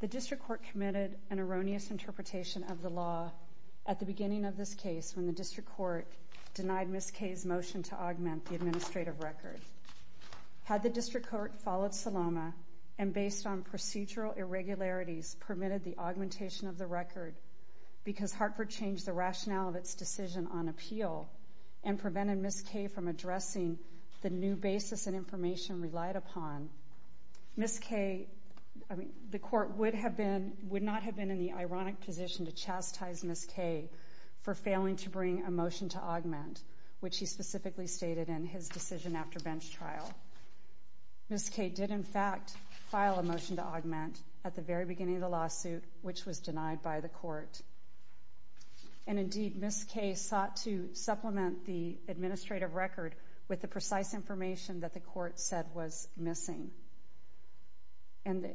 The District Court committed an erroneous interpretation of the law at the beginning of this case when the District Court denied Ms. Kay's motion to augment the administrative record. Had the District Court followed Salama and, based on procedural irregularities, permitted the augmentation of the record, because Hartford changed the rationale of its decision on appeal and prevented Ms. Kay from addressing the new basis and information relied upon, the Court would not have been in the ironic position to chastise Ms. Kay for failing to bring a motion to augment, which he specifically stated in his decision after bench trial. Ms. Kay did, in fact, file a motion to augment at the very beginning of the lawsuit, which was denied by the Court. And indeed, Ms. Kay sought to supplement the administrative record with the precise information that the Court said was missing. And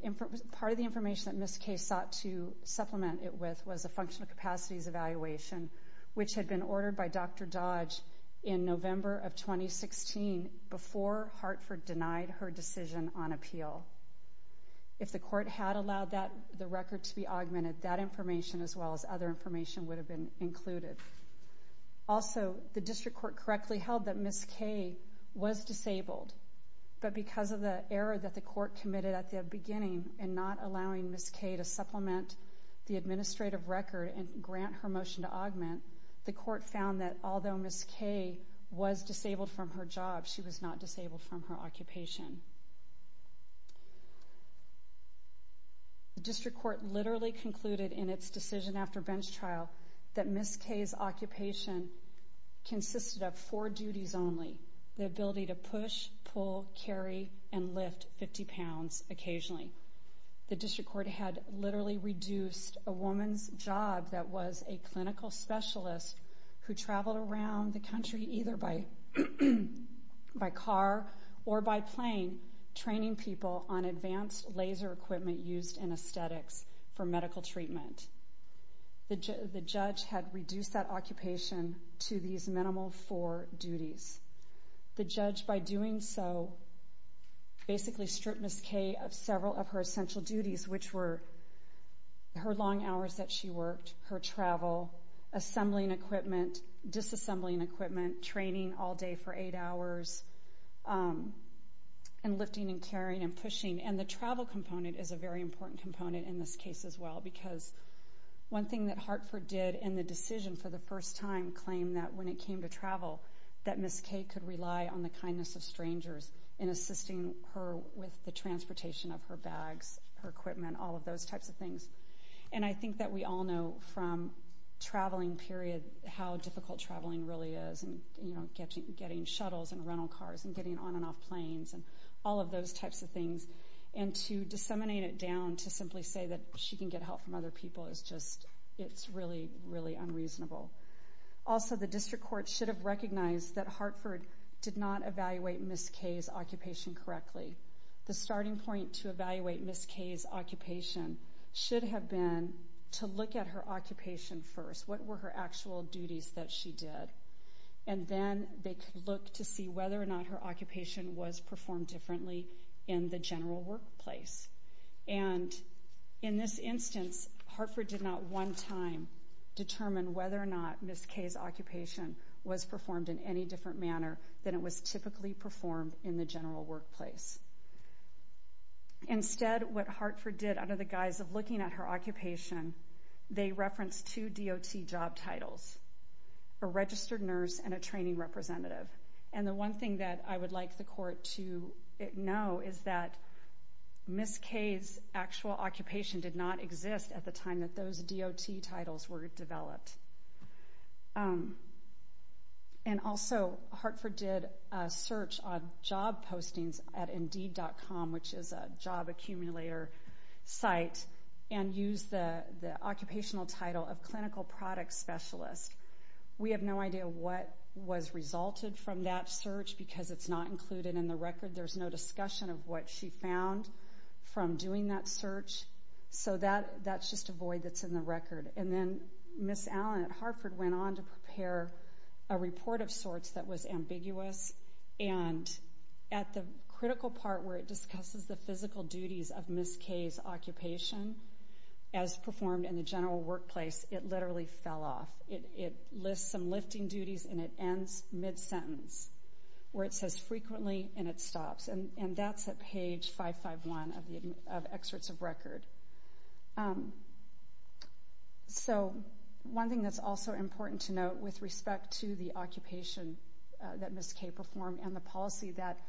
part of the information that Ms. Kay sought to supplement it with was a functional capacities evaluation, which had been ordered by Dr. Dodge in November of 2016 before Hartford denied her decision on appeal. If the Court had allowed the record to be augmented, that information, as well as other information, would have been included. Also, the District Court correctly held that Ms. Kay was disabled, but because of the error that the Court committed at the beginning in not allowing Ms. Kay to supplement the motion to augment, the Court found that although Ms. Kay was disabled from her job, she was not disabled from her occupation. The District Court literally concluded in its decision after bench trial that Ms. Kay's occupation consisted of four duties only, the ability to push, pull, carry, and lift 50 pounds occasionally. The District Court had literally reduced a woman's job that was a clinical specialist who traveled around the country either by car or by plane, training people on advanced laser equipment used in aesthetics for medical treatment. The judge had reduced that occupation to these minimal four duties. The judge, by doing so, basically stripped Ms. Kay of several of her essential duties, which were her long hours that she worked, her travel, assembling equipment, disassembling equipment, training all day for eight hours, and lifting and carrying and pushing. The travel component is a very important component in this case, as well, because one thing that Hartford did in the decision for the first time claimed that when it came to travel, that Ms. Kay could rely on the kindness of strangers in assisting her with the transportation of her bags, her equipment, all of those types of things. And I think that we all know from traveling period how difficult traveling really is, and getting shuttles and rental cars and getting on and off planes and all of those types of things, and to disseminate it down to simply say that she can get help from other people is just, it's really, really unreasonable. Also, the district court should have recognized that Hartford did not evaluate Ms. Kay's occupation correctly. The starting point to evaluate Ms. Kay's occupation should have been to look at her occupation first, what were her actual duties that she did, and then they could look to see whether or not her occupation was performed differently in the general workplace. And in this instance, Hartford did not one time determine whether or not Ms. Kay's occupation was performed in any different manner than it was typically performed in the general workplace. Instead, what Hartford did under the guise of looking at her occupation, they referenced two DOT job titles, a registered nurse and a training representative. And the one thing that I would like the court to know is that Ms. Kay's actual occupation did not exist at the time that those DOT titles were developed. And also, Hartford did a search on job postings at Indeed.com, which is a job accumulator site, and used the occupational title of clinical product specialist. We have no idea what was resulted from that search, because it's not included in the record. There's no discussion of what she found from doing that search, so that's just a void that's in the record. And then Ms. Allen at Hartford went on to prepare a report of sorts that was ambiguous, and at the critical part where it discusses the physical duties of Ms. Kay's occupation, as performed in the general workplace, it literally fell off. It lists some lifting duties and it ends mid-sentence, where it says frequently and it stops. And that's at page 551 of excerpts of record. So one thing that's also important to note with respect to the occupation that Ms. Kay performed and the policy that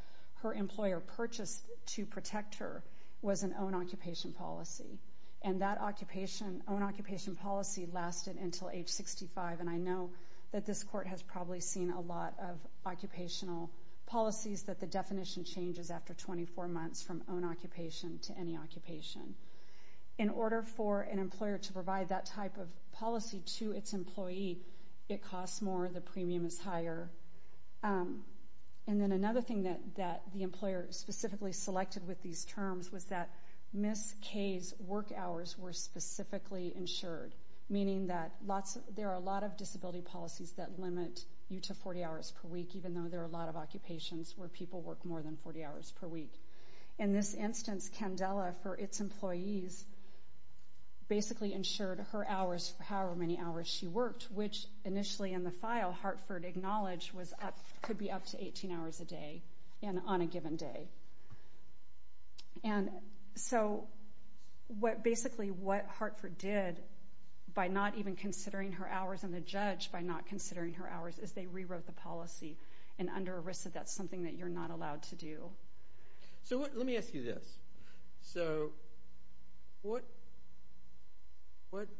her employer purchased to protect her was an own-occupation policy. And that own-occupation policy lasted until age 65, and I know that this court has probably seen a lot of occupational policies that the definition changes after 24 months from own-occupation to any occupation. In order for an employer to provide that type of policy to its employee, it costs more, the premium is higher. And then another thing that the employer specifically selected with these terms was that Ms. Kay Kay's work hours were specifically insured, meaning that there are a lot of disability policies that limit you to 40 hours per week, even though there are a lot of occupations where people work more than 40 hours per week. In this instance, Candela, for its employees, basically insured her hours for however many hours she worked, which initially in the file Hartford acknowledged could be up to 18 hours a day and on a given day. And so, basically what Hartford did by not even considering her hours and the judge by not considering her hours is they rewrote the policy, and under ERISA, that's something that you're not allowed to do. So let me ask you this. So what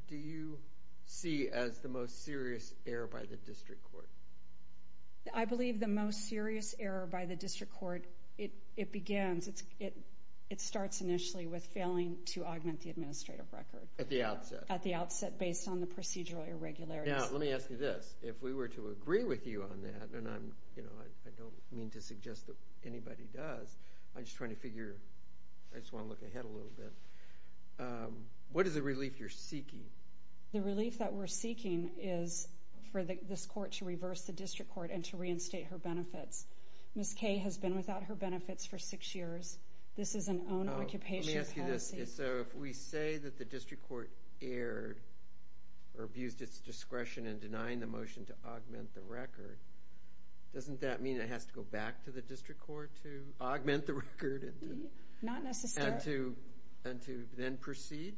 do you see as the most serious error by the district court? I believe the most serious error by the district court, it begins, it starts initially with failing to augment the administrative record. At the outset. At the outset, based on the procedural irregularities. Now, let me ask you this. If we were to agree with you on that, and I don't mean to suggest that anybody does, I'm just trying to figure, I just want to look ahead a little bit. What is the relief you're seeking? The relief that we're seeking is for this court to reverse the district court and to reinstate her benefits. Ms. Kaye has been without her benefits for six years. This is an own occupation. Oh, let me ask you this. So if we say that the district court erred or abused its discretion in denying the motion to augment the record, doesn't that mean it has to go back to the district court to augment the record? Not necessarily. And to then proceed?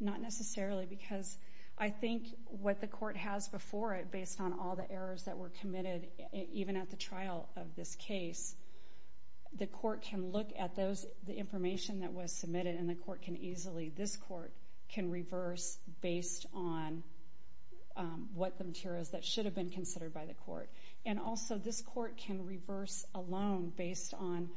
Not necessarily, because I think what the court has before it, based on all the errors that were committed, even at the trial of this case, the court can look at those, the information that was submitted, and the court can easily, this court, can reverse based on what the materials that should have been considered by the court. And also, this court can reverse alone based on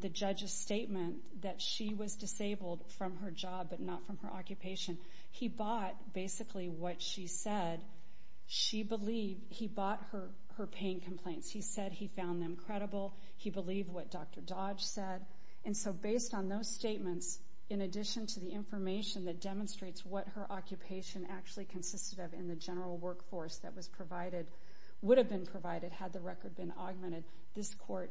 the judge's statement that she was disabled from her job, but not from her occupation. He bought, basically, what she said. She believed, he bought her pain complaints. He said he found them credible. He believed what Dr. Dodge said. And so, based on those statements, in addition to the information that demonstrates what her occupation actually consisted of in the general workforce that was provided, would have been provided had the record been augmented, this court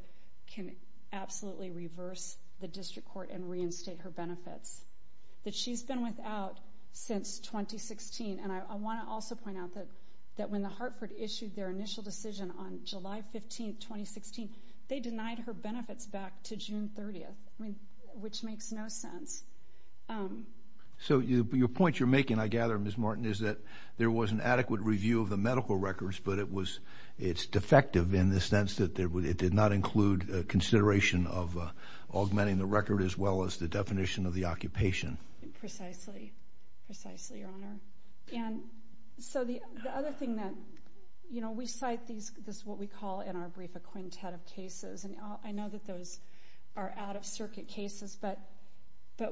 can absolutely reverse the district court and reinstate her benefits that she's been without since 2016. And I want to also point out that when the Hartford issued their initial decision on July 15, 2016, they denied her benefits back to June 30th, which makes no sense. So your point you're making, I gather, Ms. Martin, is that there was an adequate review of the medical records, but it was, it's defective in the sense that it did not include consideration of augmenting the record as well as the definition of the occupation. Precisely. Precisely, Your Honor. And so the other thing that, you know, we cite these, this is what we call in our brief a quintet of cases, and I know that those are out-of-circuit cases, but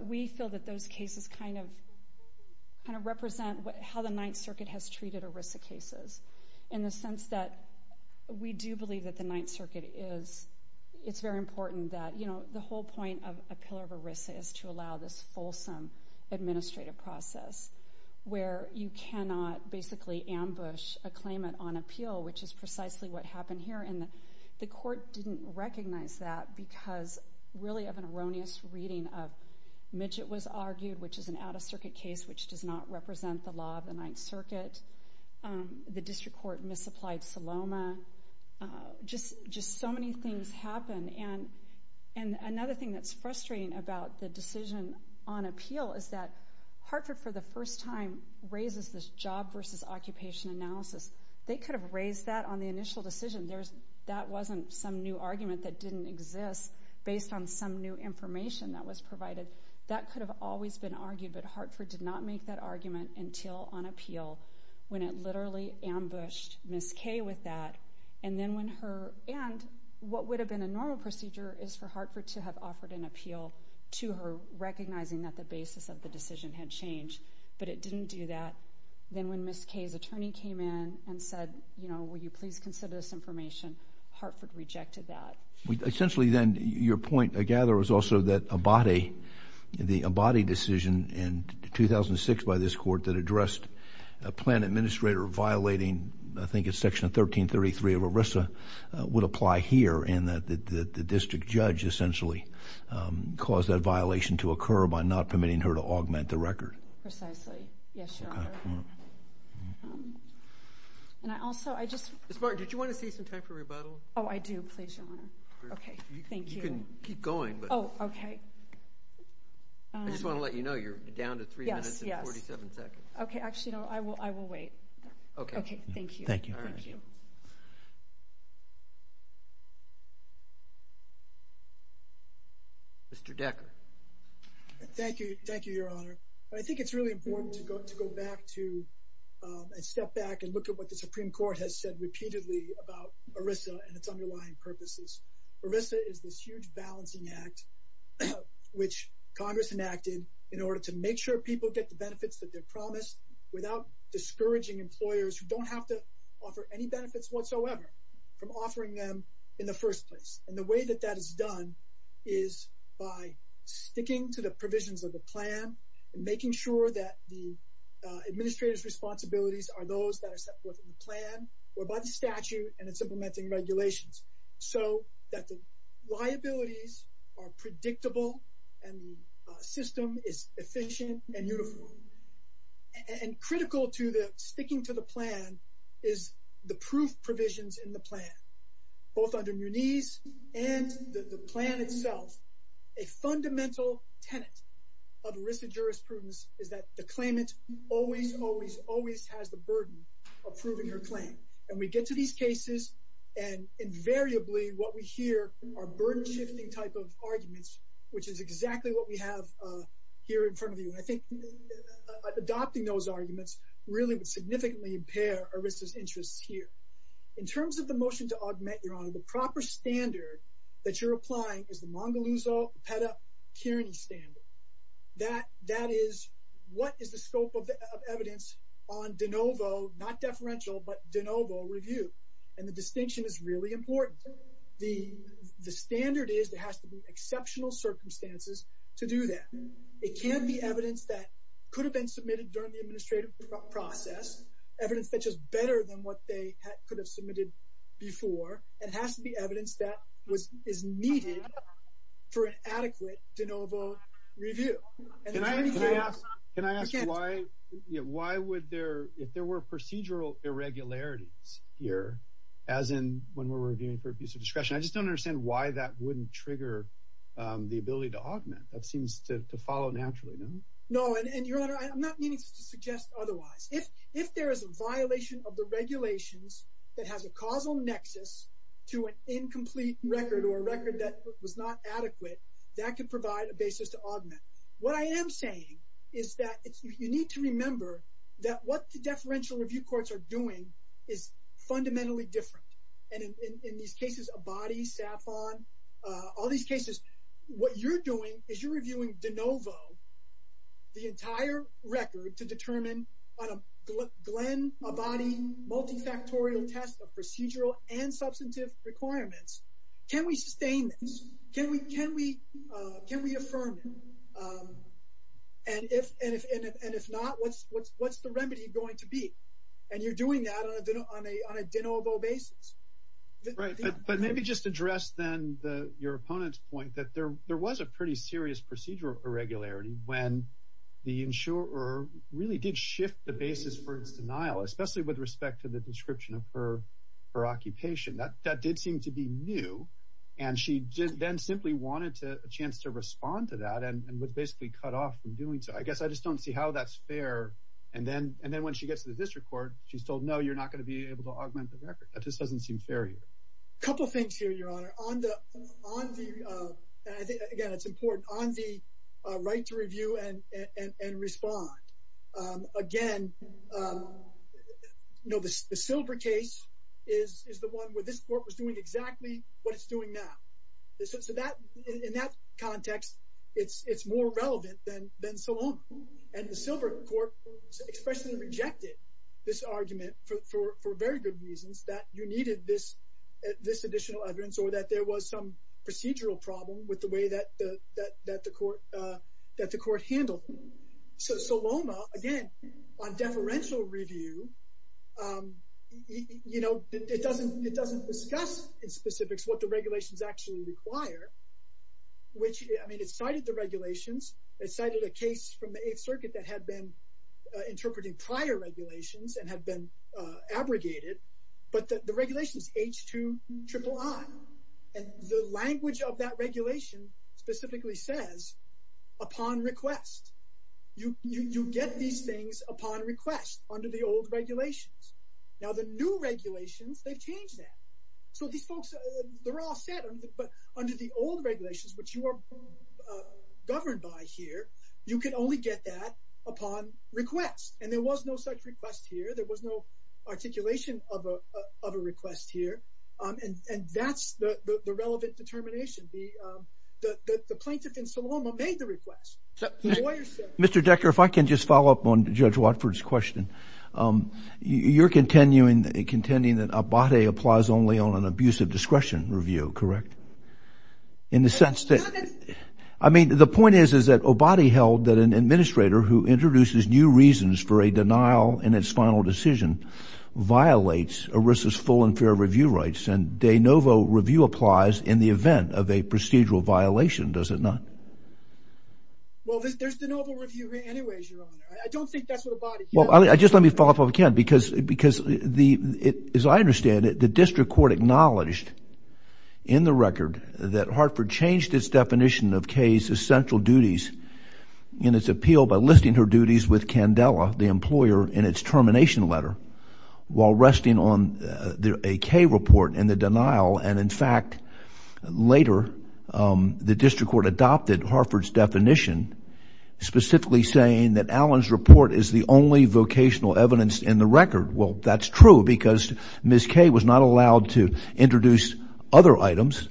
we feel that those cases kind of, kind of represent how the Ninth Circuit has treated ERISA cases in the sense that we do believe that the Ninth Circuit is, it's very important that, you know, the whole point of a pillar of ERISA is to allow this fulsome administrative process where you cannot basically ambush a claimant on appeal, which is precisely what happened here. And the court didn't recognize that because really of an erroneous reading of Midget was argued, which is an out-of-circuit case, which does not represent the law of the Ninth Circuit. The district court misapplied Saloma. Just so many things happened, and another thing that's frustrating about the decision on appeal is that Hartford, for the first time, raises this job versus occupation analysis. They could have raised that on the initial decision. That wasn't some new argument that didn't exist based on some new information that was provided. That could have always been argued, but Hartford did not make that argument until on appeal when it literally ambushed Ms. Kay with that. And then when her, and what would have been a normal procedure is for Hartford to have offered an appeal to her, recognizing that the basis of the decision had changed, but it didn't do that. Then when Ms. Kay's attorney came in and said, you know, will you please consider this information, Hartford rejected that. Essentially, then, your point, I gather, was also that Abate, the Abate decision in 2006 by this court that addressed a plan administrator violating, I think it's Section 1333 of ERISA, would apply here, and that the district judge essentially caused that violation to occur by not permitting her to augment the record. Precisely. Yes, Your Honor. Okay. And I also, I just... Ms. Martin, did you want to save some time for rebuttal? Oh, I do. Please, Your Honor. Okay. Thank you. You can keep going, but... Oh, okay. I just want to let you know, you're down to three minutes and 47 seconds. Yes, yes. Okay. Actually, no, I will wait. Okay. Okay. Thank you. Thank you. All right. Thank you. Mr. Decker. Thank you. Thank you, Your Honor. I think it's really important to go back to, and step back and look at what the Supreme Court has said repeatedly about ERISA and its underlying purposes. ERISA is this huge balancing act which Congress enacted in order to make sure people get the benefits that they're promised without discouraging employers who don't have to offer any benefits whatsoever from offering them in the first place. And the way that that is done is by sticking to the provisions of the plan and making sure that the administrator's responsibilities are those that are set forth in the plan or by the statute and in supplementing regulations. So that the liabilities are predictable and the system is efficient and uniform. And critical to sticking to the plan is the proof provisions in the plan, both under Muniz and the plan itself. A fundamental tenet of ERISA jurisprudence is that the claimant always, always, always has the burden of proving her claim. And we get to these cases and invariably what we hear are burden shifting type of arguments, which is exactly what we have here in front of you. And I think adopting those arguments really would significantly impair ERISA's interests here. In terms of the motion to augment, Your Honor, the proper standard that you're applying is the Mongoluzo-Peta-Kirini standard. That is, what is the scope of evidence on de novo, not deferential, but de novo review? And the distinction is really important. The standard is there has to be exceptional circumstances to do that. It can't be evidence that could have been submitted during the administrative process, evidence that's just better than what they could have submitted before. It has to be evidence that is needed for an adequate de novo review. Can I ask why would there, if there were procedural irregularities here, as in when we're reviewing for abuse of discretion, I just don't understand why that wouldn't trigger the ability to augment. That seems to follow naturally, doesn't it? No, and Your Honor, I'm not meaning to suggest otherwise. If there is a violation of the regulations that has a causal nexus to an incomplete record or a record that was not adequate, that could provide a basis to augment. What I am saying is that you need to remember that what the deferential review courts are doing is fundamentally different. And in these cases, Abadi, Safon, all these cases, what you're doing is you're reviewing de novo the entire record to determine on a Glenn Abadi multifactorial test of procedural and substantive requirements. Can we sustain this? Can we affirm it? And if not, what's the remedy going to be? And you're doing that on a de novo basis. Right, but maybe just address then your opponent's point that there was a pretty serious procedural irregularity when the insurer really did shift the basis for its denial, especially with respect to the description of her occupation. That did seem to be new. And she then simply wanted a chance to respond to that and was basically cut off from doing so. I guess I just don't see how that's fair. And then when she gets to the district court, she's told, no, you're not going to be able to augment the record. That just doesn't seem fair here. A couple of things here, Your Honor, on the, again, it's important, on the right to review and respond, again, the Silver case is the one where this court was doing exactly what it's doing now. So in that context, it's more relevant than Salome. And the Silver court expressly rejected this argument for very good reasons, that you needed this additional evidence or that there was some procedural problem with the way that the court handled it. So Salome, again, on deferential review, it doesn't discuss in specifics what the regulations actually require, which, I mean, it cited the regulations, it cited a case from the Eighth Circuit that had been interpreting prior regulations and had been abrogated, but the regulations, H-2-triple-I, and the language of that regulation specifically says upon request, you get these things upon request under the old regulations. Now the new regulations, they've changed that. So these folks, they're all set, but under the old regulations, which you are governed by here, you can only get that upon request. And there was no such request here. There was no articulation of a request here. And that's the relevant determination. The plaintiff in Salome made the request. The lawyer said it. Mr. Decker, if I can just follow up on Judge Watford's question. You're contending that OBATE applies only on an abuse of discretion review, correct? In the sense that, I mean, the point is, is that OBATE held that an administrator who made that decision violates ERISA's full and fair review rights, and de novo review applies in the event of a procedural violation, does it not? Well, there's de novo review anyways, Your Honor. I don't think that's what OBATE can do. Well, just let me follow up if I can, because as I understand it, the district court acknowledged in the record that Hartford changed its definition of Kay's essential duties in its appeal by enlisting her duties with Candela, the employer, in its termination letter, while resting on a Kay report in the denial. And in fact, later, the district court adopted Hartford's definition, specifically saying that Allen's report is the only vocational evidence in the record. Well, that's true, because Ms. Kay was not allowed to introduce other items.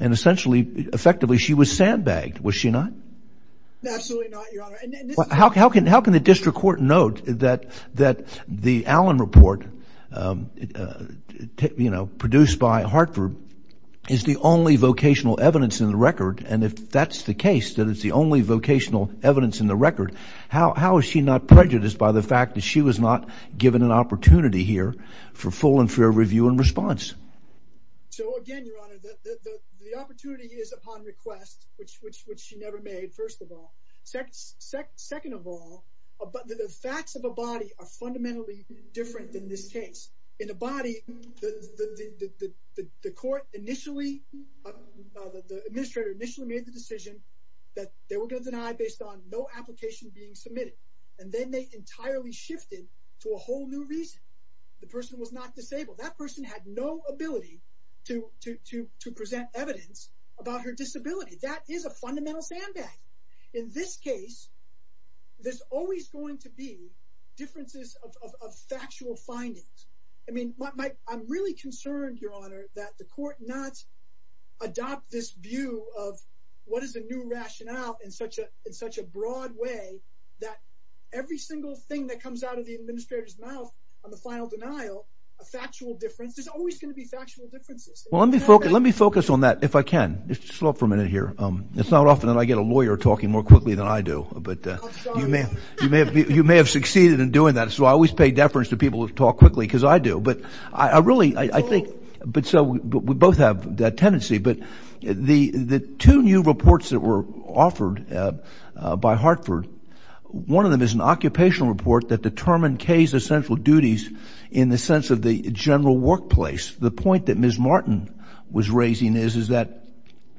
And essentially, effectively, she was sandbagged. Was she not? Absolutely not, Your Honor. How can the district court note that the Allen report, you know, produced by Hartford, is the only vocational evidence in the record, and if that's the case, that it's the only vocational evidence in the record, how is she not prejudiced by the fact that she was not given an opportunity here for full and fair review and response? So again, Your Honor, the opportunity is upon request, which she never made, first of all. Second of all, the facts of a body are fundamentally different than this case. In a body, the court initially, the administrator initially made the decision that they were going to deny based on no application being submitted. And then they entirely shifted to a whole new reason. The person was not disabled. That person had no ability to present evidence about her disability. That is a fundamental sandbag. In this case, there's always going to be differences of factual findings. I mean, I'm really concerned, Your Honor, that the court not adopt this view of what is a new rationale in such a broad way that every single thing that comes out of the administrator's mouth on the final denial, a factual difference, there's always going to be factual differences. Well, let me focus on that, if I can. Just hold up for a minute here. It's not often that I get a lawyer talking more quickly than I do, but you may have succeeded in doing that, so I always pay deference to people who talk quickly because I do. But I really, I think, but so we both have that tendency. But the two new reports that were offered by Hartford, one of them is an occupational report that determined Kay's essential duties in the sense of the general workplace. The point that Ms. Martin was raising is that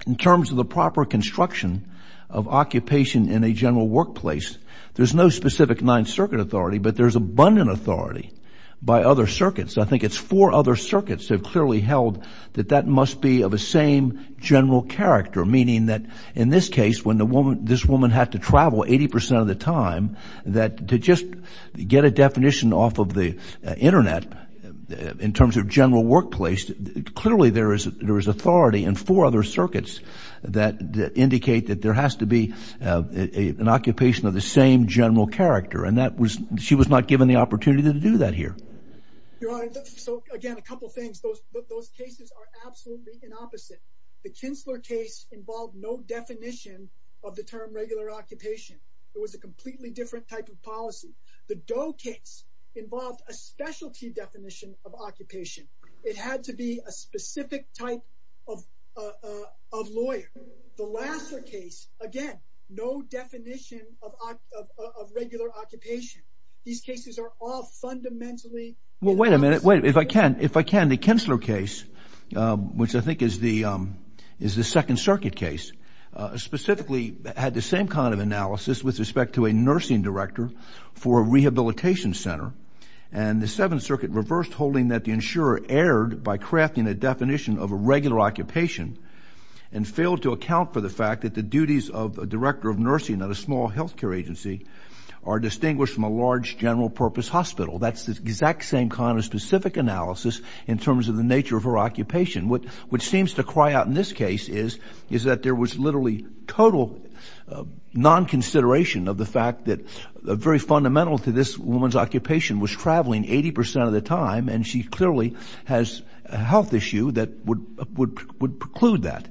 in terms of the proper construction of occupation in a general workplace, there's no specific Ninth Circuit authority, but there's abundant authority by other circuits. I think it's four other circuits that have clearly held that that must be of the same general character, meaning that in this case, when this woman had to travel 80 percent of the time, that to just get a definition off of the Internet in terms of general workplace, clearly there is authority in four other circuits that indicate that there has to be an occupation of the same general character, and that was, she was not given the opportunity to do that here. Your Honor, so again, a couple of things. Those cases are absolutely the opposite. The Kinsler case involved no definition of the term regular occupation. It was a completely different type of policy. The Doe case involved a specialty definition of occupation. It had to be a specific type of lawyer. The Lassner case, again, no definition of regular occupation. These cases are all fundamentally the opposite. Well, wait a minute. Wait, if I can, if I can. The Kinsler case, which I think is the Second Circuit case, specifically had the same kind of analysis with respect to a nursing director for a rehabilitation center, and the Seventh Circuit reversed holding that the insurer erred by crafting a definition of a regular occupation and failed to account for the fact that the duties of a director of nursing at a small health care agency are distinguished from a large general purpose hospital. That's the exact same kind of specific analysis in terms of the nature of her occupation, which seems to cry out in this case is that there was literally total non-consideration of the fact that very fundamental to this woman's occupation was traveling 80 percent of the time, and she clearly has a health issue that would preclude that.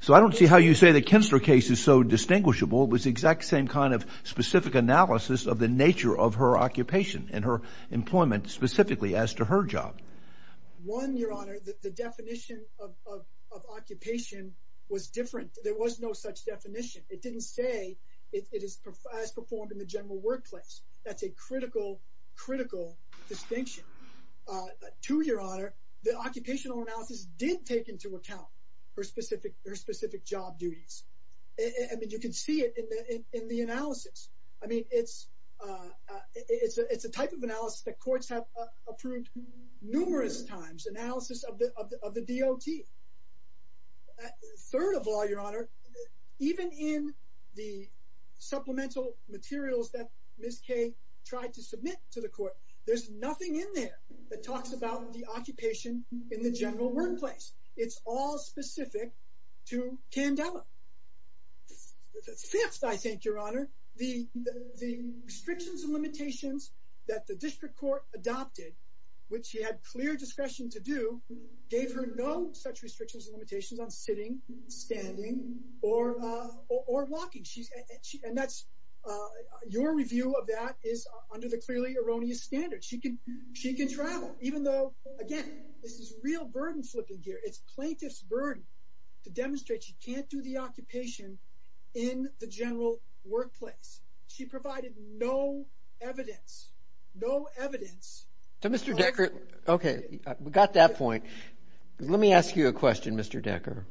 So I don't see how you say the Kinsler case is so distinguishable. It was the exact same kind of specific analysis of the nature of her occupation and her employment specifically as to her job. One, Your Honor, the definition of occupation was different. There was no such definition. It didn't say it is as performed in the general workplace. That's a critical, critical distinction. Two, Your Honor, the occupational analysis did take into account her specific job duties. I mean, you can see it in the analysis. I mean, it's a type of analysis that courts have approved numerous times, analysis of the DOT. Third of all, Your Honor, even in the supplemental materials that Ms. Kay tried to submit to the court, there's nothing in there that talks about the occupation in the general workplace. It's all specific to Candela. Fifth, I think, Your Honor, the restrictions and limitations that the district court adopted, which she had clear discretion to do, gave her no such restrictions and limitations on sitting, standing, or walking. And that's, your review of that is under the clearly erroneous standards. She can travel, even though, again, this is real burden flipping here. It's plaintiff's burden to demonstrate she can't do the occupation in the general workplace. She provided no evidence, no evidence. To Mr. Decker, okay, we got that point. Let me ask you a question, Mr. Decker.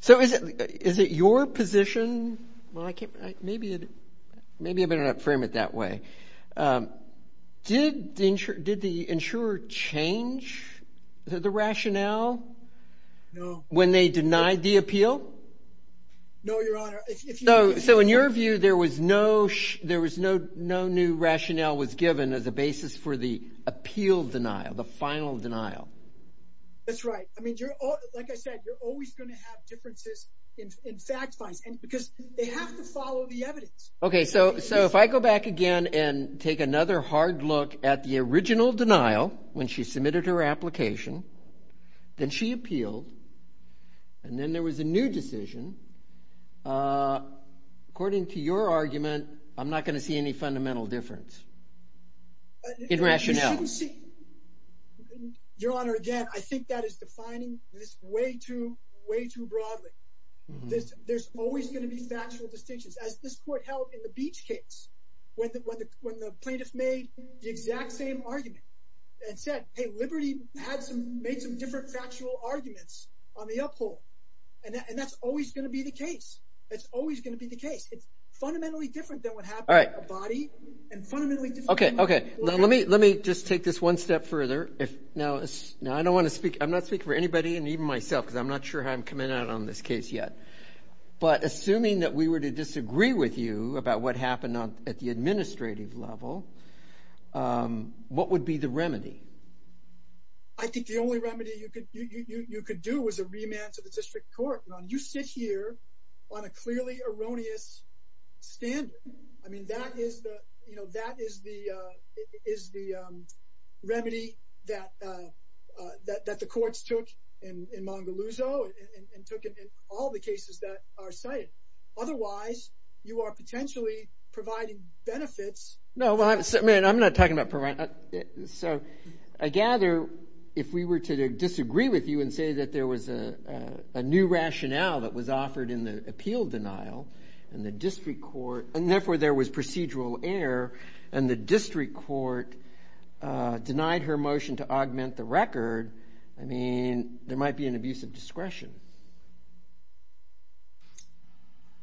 So is it your position, well, I can't, maybe I better not frame it that way, did the insurer change the rationale when they denied the appeal? No, Your Honor. So in your view, there was no new rationale was given as a basis for the appeal denial, the final denial? That's right. I mean, like I said, you're always going to have differences in fact finds because they have to follow the evidence. Okay, so if I go back again and take another hard look at the original denial when she submitted her application, then she appealed, and then there was a new decision, according to your argument, I'm not going to see any fundamental difference in rationale. You shouldn't see, Your Honor, again, I think that is defining this way too, way too broadly. There's always going to be factual distinctions. As this court held in the Beach case, when the plaintiff made the exact same argument and said, hey, Liberty made some different factual arguments on the uphold, and that's always going to be the case. It's always going to be the case. It's fundamentally different than what happened to a body, and fundamentally different than what happened to a court case. Okay, okay. Let me just take this one step further. Now, I don't want to speak, I'm not speaking for anybody and even myself, because I'm not sure how I'm coming out on this case yet. But assuming that we were to disagree with you about what happened at the administrative level, what would be the remedy? I think the only remedy you could do was a remand to the district court. You sit here on a clearly erroneous standard. I mean, that is the remedy that the courts took in Mongoluzo and took in all the cases that are cited. Otherwise, you are potentially providing benefits. No, I'm not talking about providing. So I gather if we were to disagree with you and say that there was a new rationale that was offered in the appeal denial, and therefore there was procedural error, and the district court denied her motion to augment the record, I mean, there might be an abuse of discretion.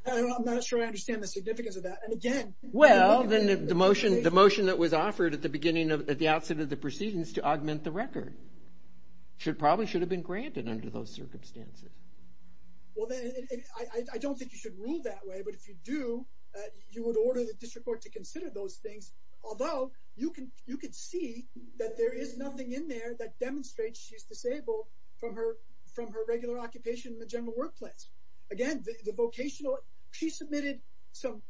I'm not sure I understand the significance of that, and again, Well, then the motion that was offered at the beginning of, at the outset of the proceedings to augment the record, probably should have been granted under those circumstances. Well, then I don't think you should rule that way, but if you do, you would order the district court to consider those things, although you can, you can see that there is nothing in there that demonstrates she's disabled from her, from her regular occupation in the general workplace. Again, the vocational, she submitted some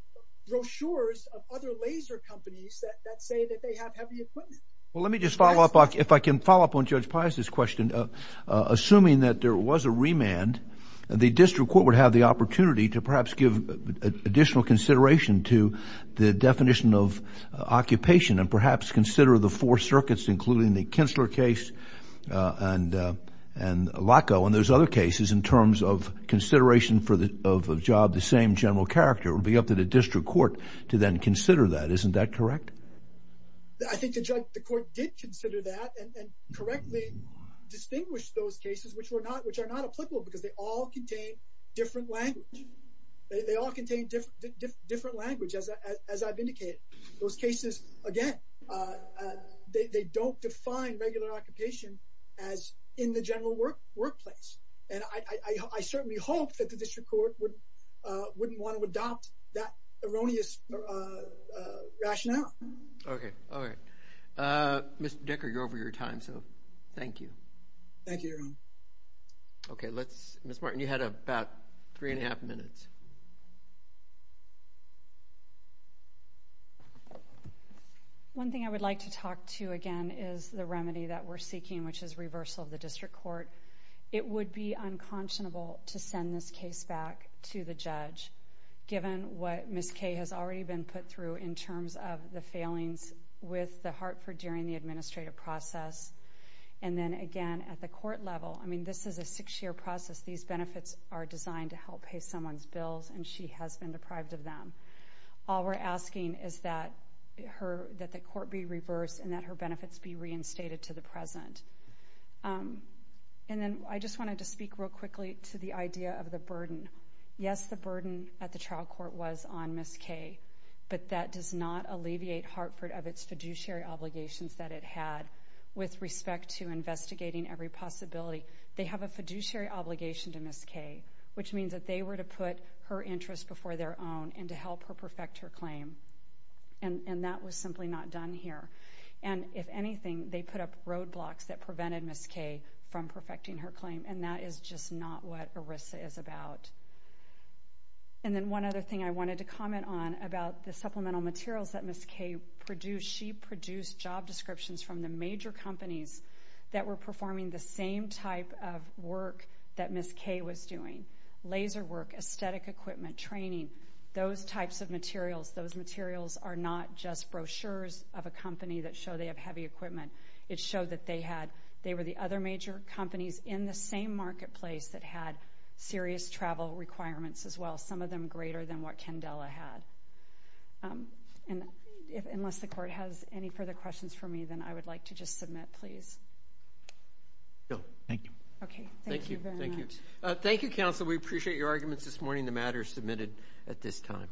brochures of other laser companies that say that they have heavy equipment. Well, let me just follow up, if I can follow up on Judge Pius's question, assuming that there was a remand, the district court would have the opportunity to perhaps give additional consideration to the definition of occupation, and perhaps consider the four circuits, including the Kinstler case, and Laco, and there's other cases in terms of consideration for the job, the same general character, it would be up to the district court to then consider that, isn't that correct? I think the court did consider that, and correctly distinguished those cases, which were not which are not applicable, because they all contain different language, they all contain different, different language, as I've indicated. Those cases, again, they don't define regular occupation as in the general work workplace, and I certainly hope that the district court would, wouldn't want to adopt that erroneous rationale. Okay. All right. Mr. Decker, you're over your time, so thank you. Thank you, Your Honor. Okay. Let's, Ms. Martin, you had about three and a half minutes. One thing I would like to talk to, again, is the remedy that we're seeking, which is reversal of the district court. It would be unconscionable to send this case back to the judge, given what Ms. Kay has already been put through in terms of the failings with the Hartford during the administrative process, and then, again, at the court level, I mean, this is a six-year process. These benefits are designed to help pay someone's bills, and she has been deprived of them. All we're asking is that her, that the court be reversed, and that her benefits be reinstated to the present, and then I just wanted to speak real quickly to the idea of the burden. Yes, the burden at the trial court was on Ms. Kay, but that does not alleviate Hartford of its fiduciary obligations that it had with respect to investigating every possibility. They have a fiduciary obligation to Ms. Kay, which means that they were to put her interests before their own and to help her perfect her claim, and that was simply not done here, and if anything, they put up roadblocks that prevented Ms. Kay from perfecting her claim, and that is just not what ERISA is about, and then one other thing I wanted to comment on about the supplemental materials that Ms. Kay produced, she produced job descriptions from the major companies that were performing the same type of work that Ms. Kay was doing. Laser work, aesthetic equipment, training, those types of materials, those materials are not just brochures of a company that show they have heavy equipment. It showed that they had, they were the other major companies in the same marketplace that had serious travel requirements as well, some of them greater than what Candela had, and unless the Court has any further questions for me, then I would like to just submit, please. Thank you. Okay. Thank you very much. Thank you. Thank you, Counsel. We appreciate your arguments this morning. The matter is submitted at this time.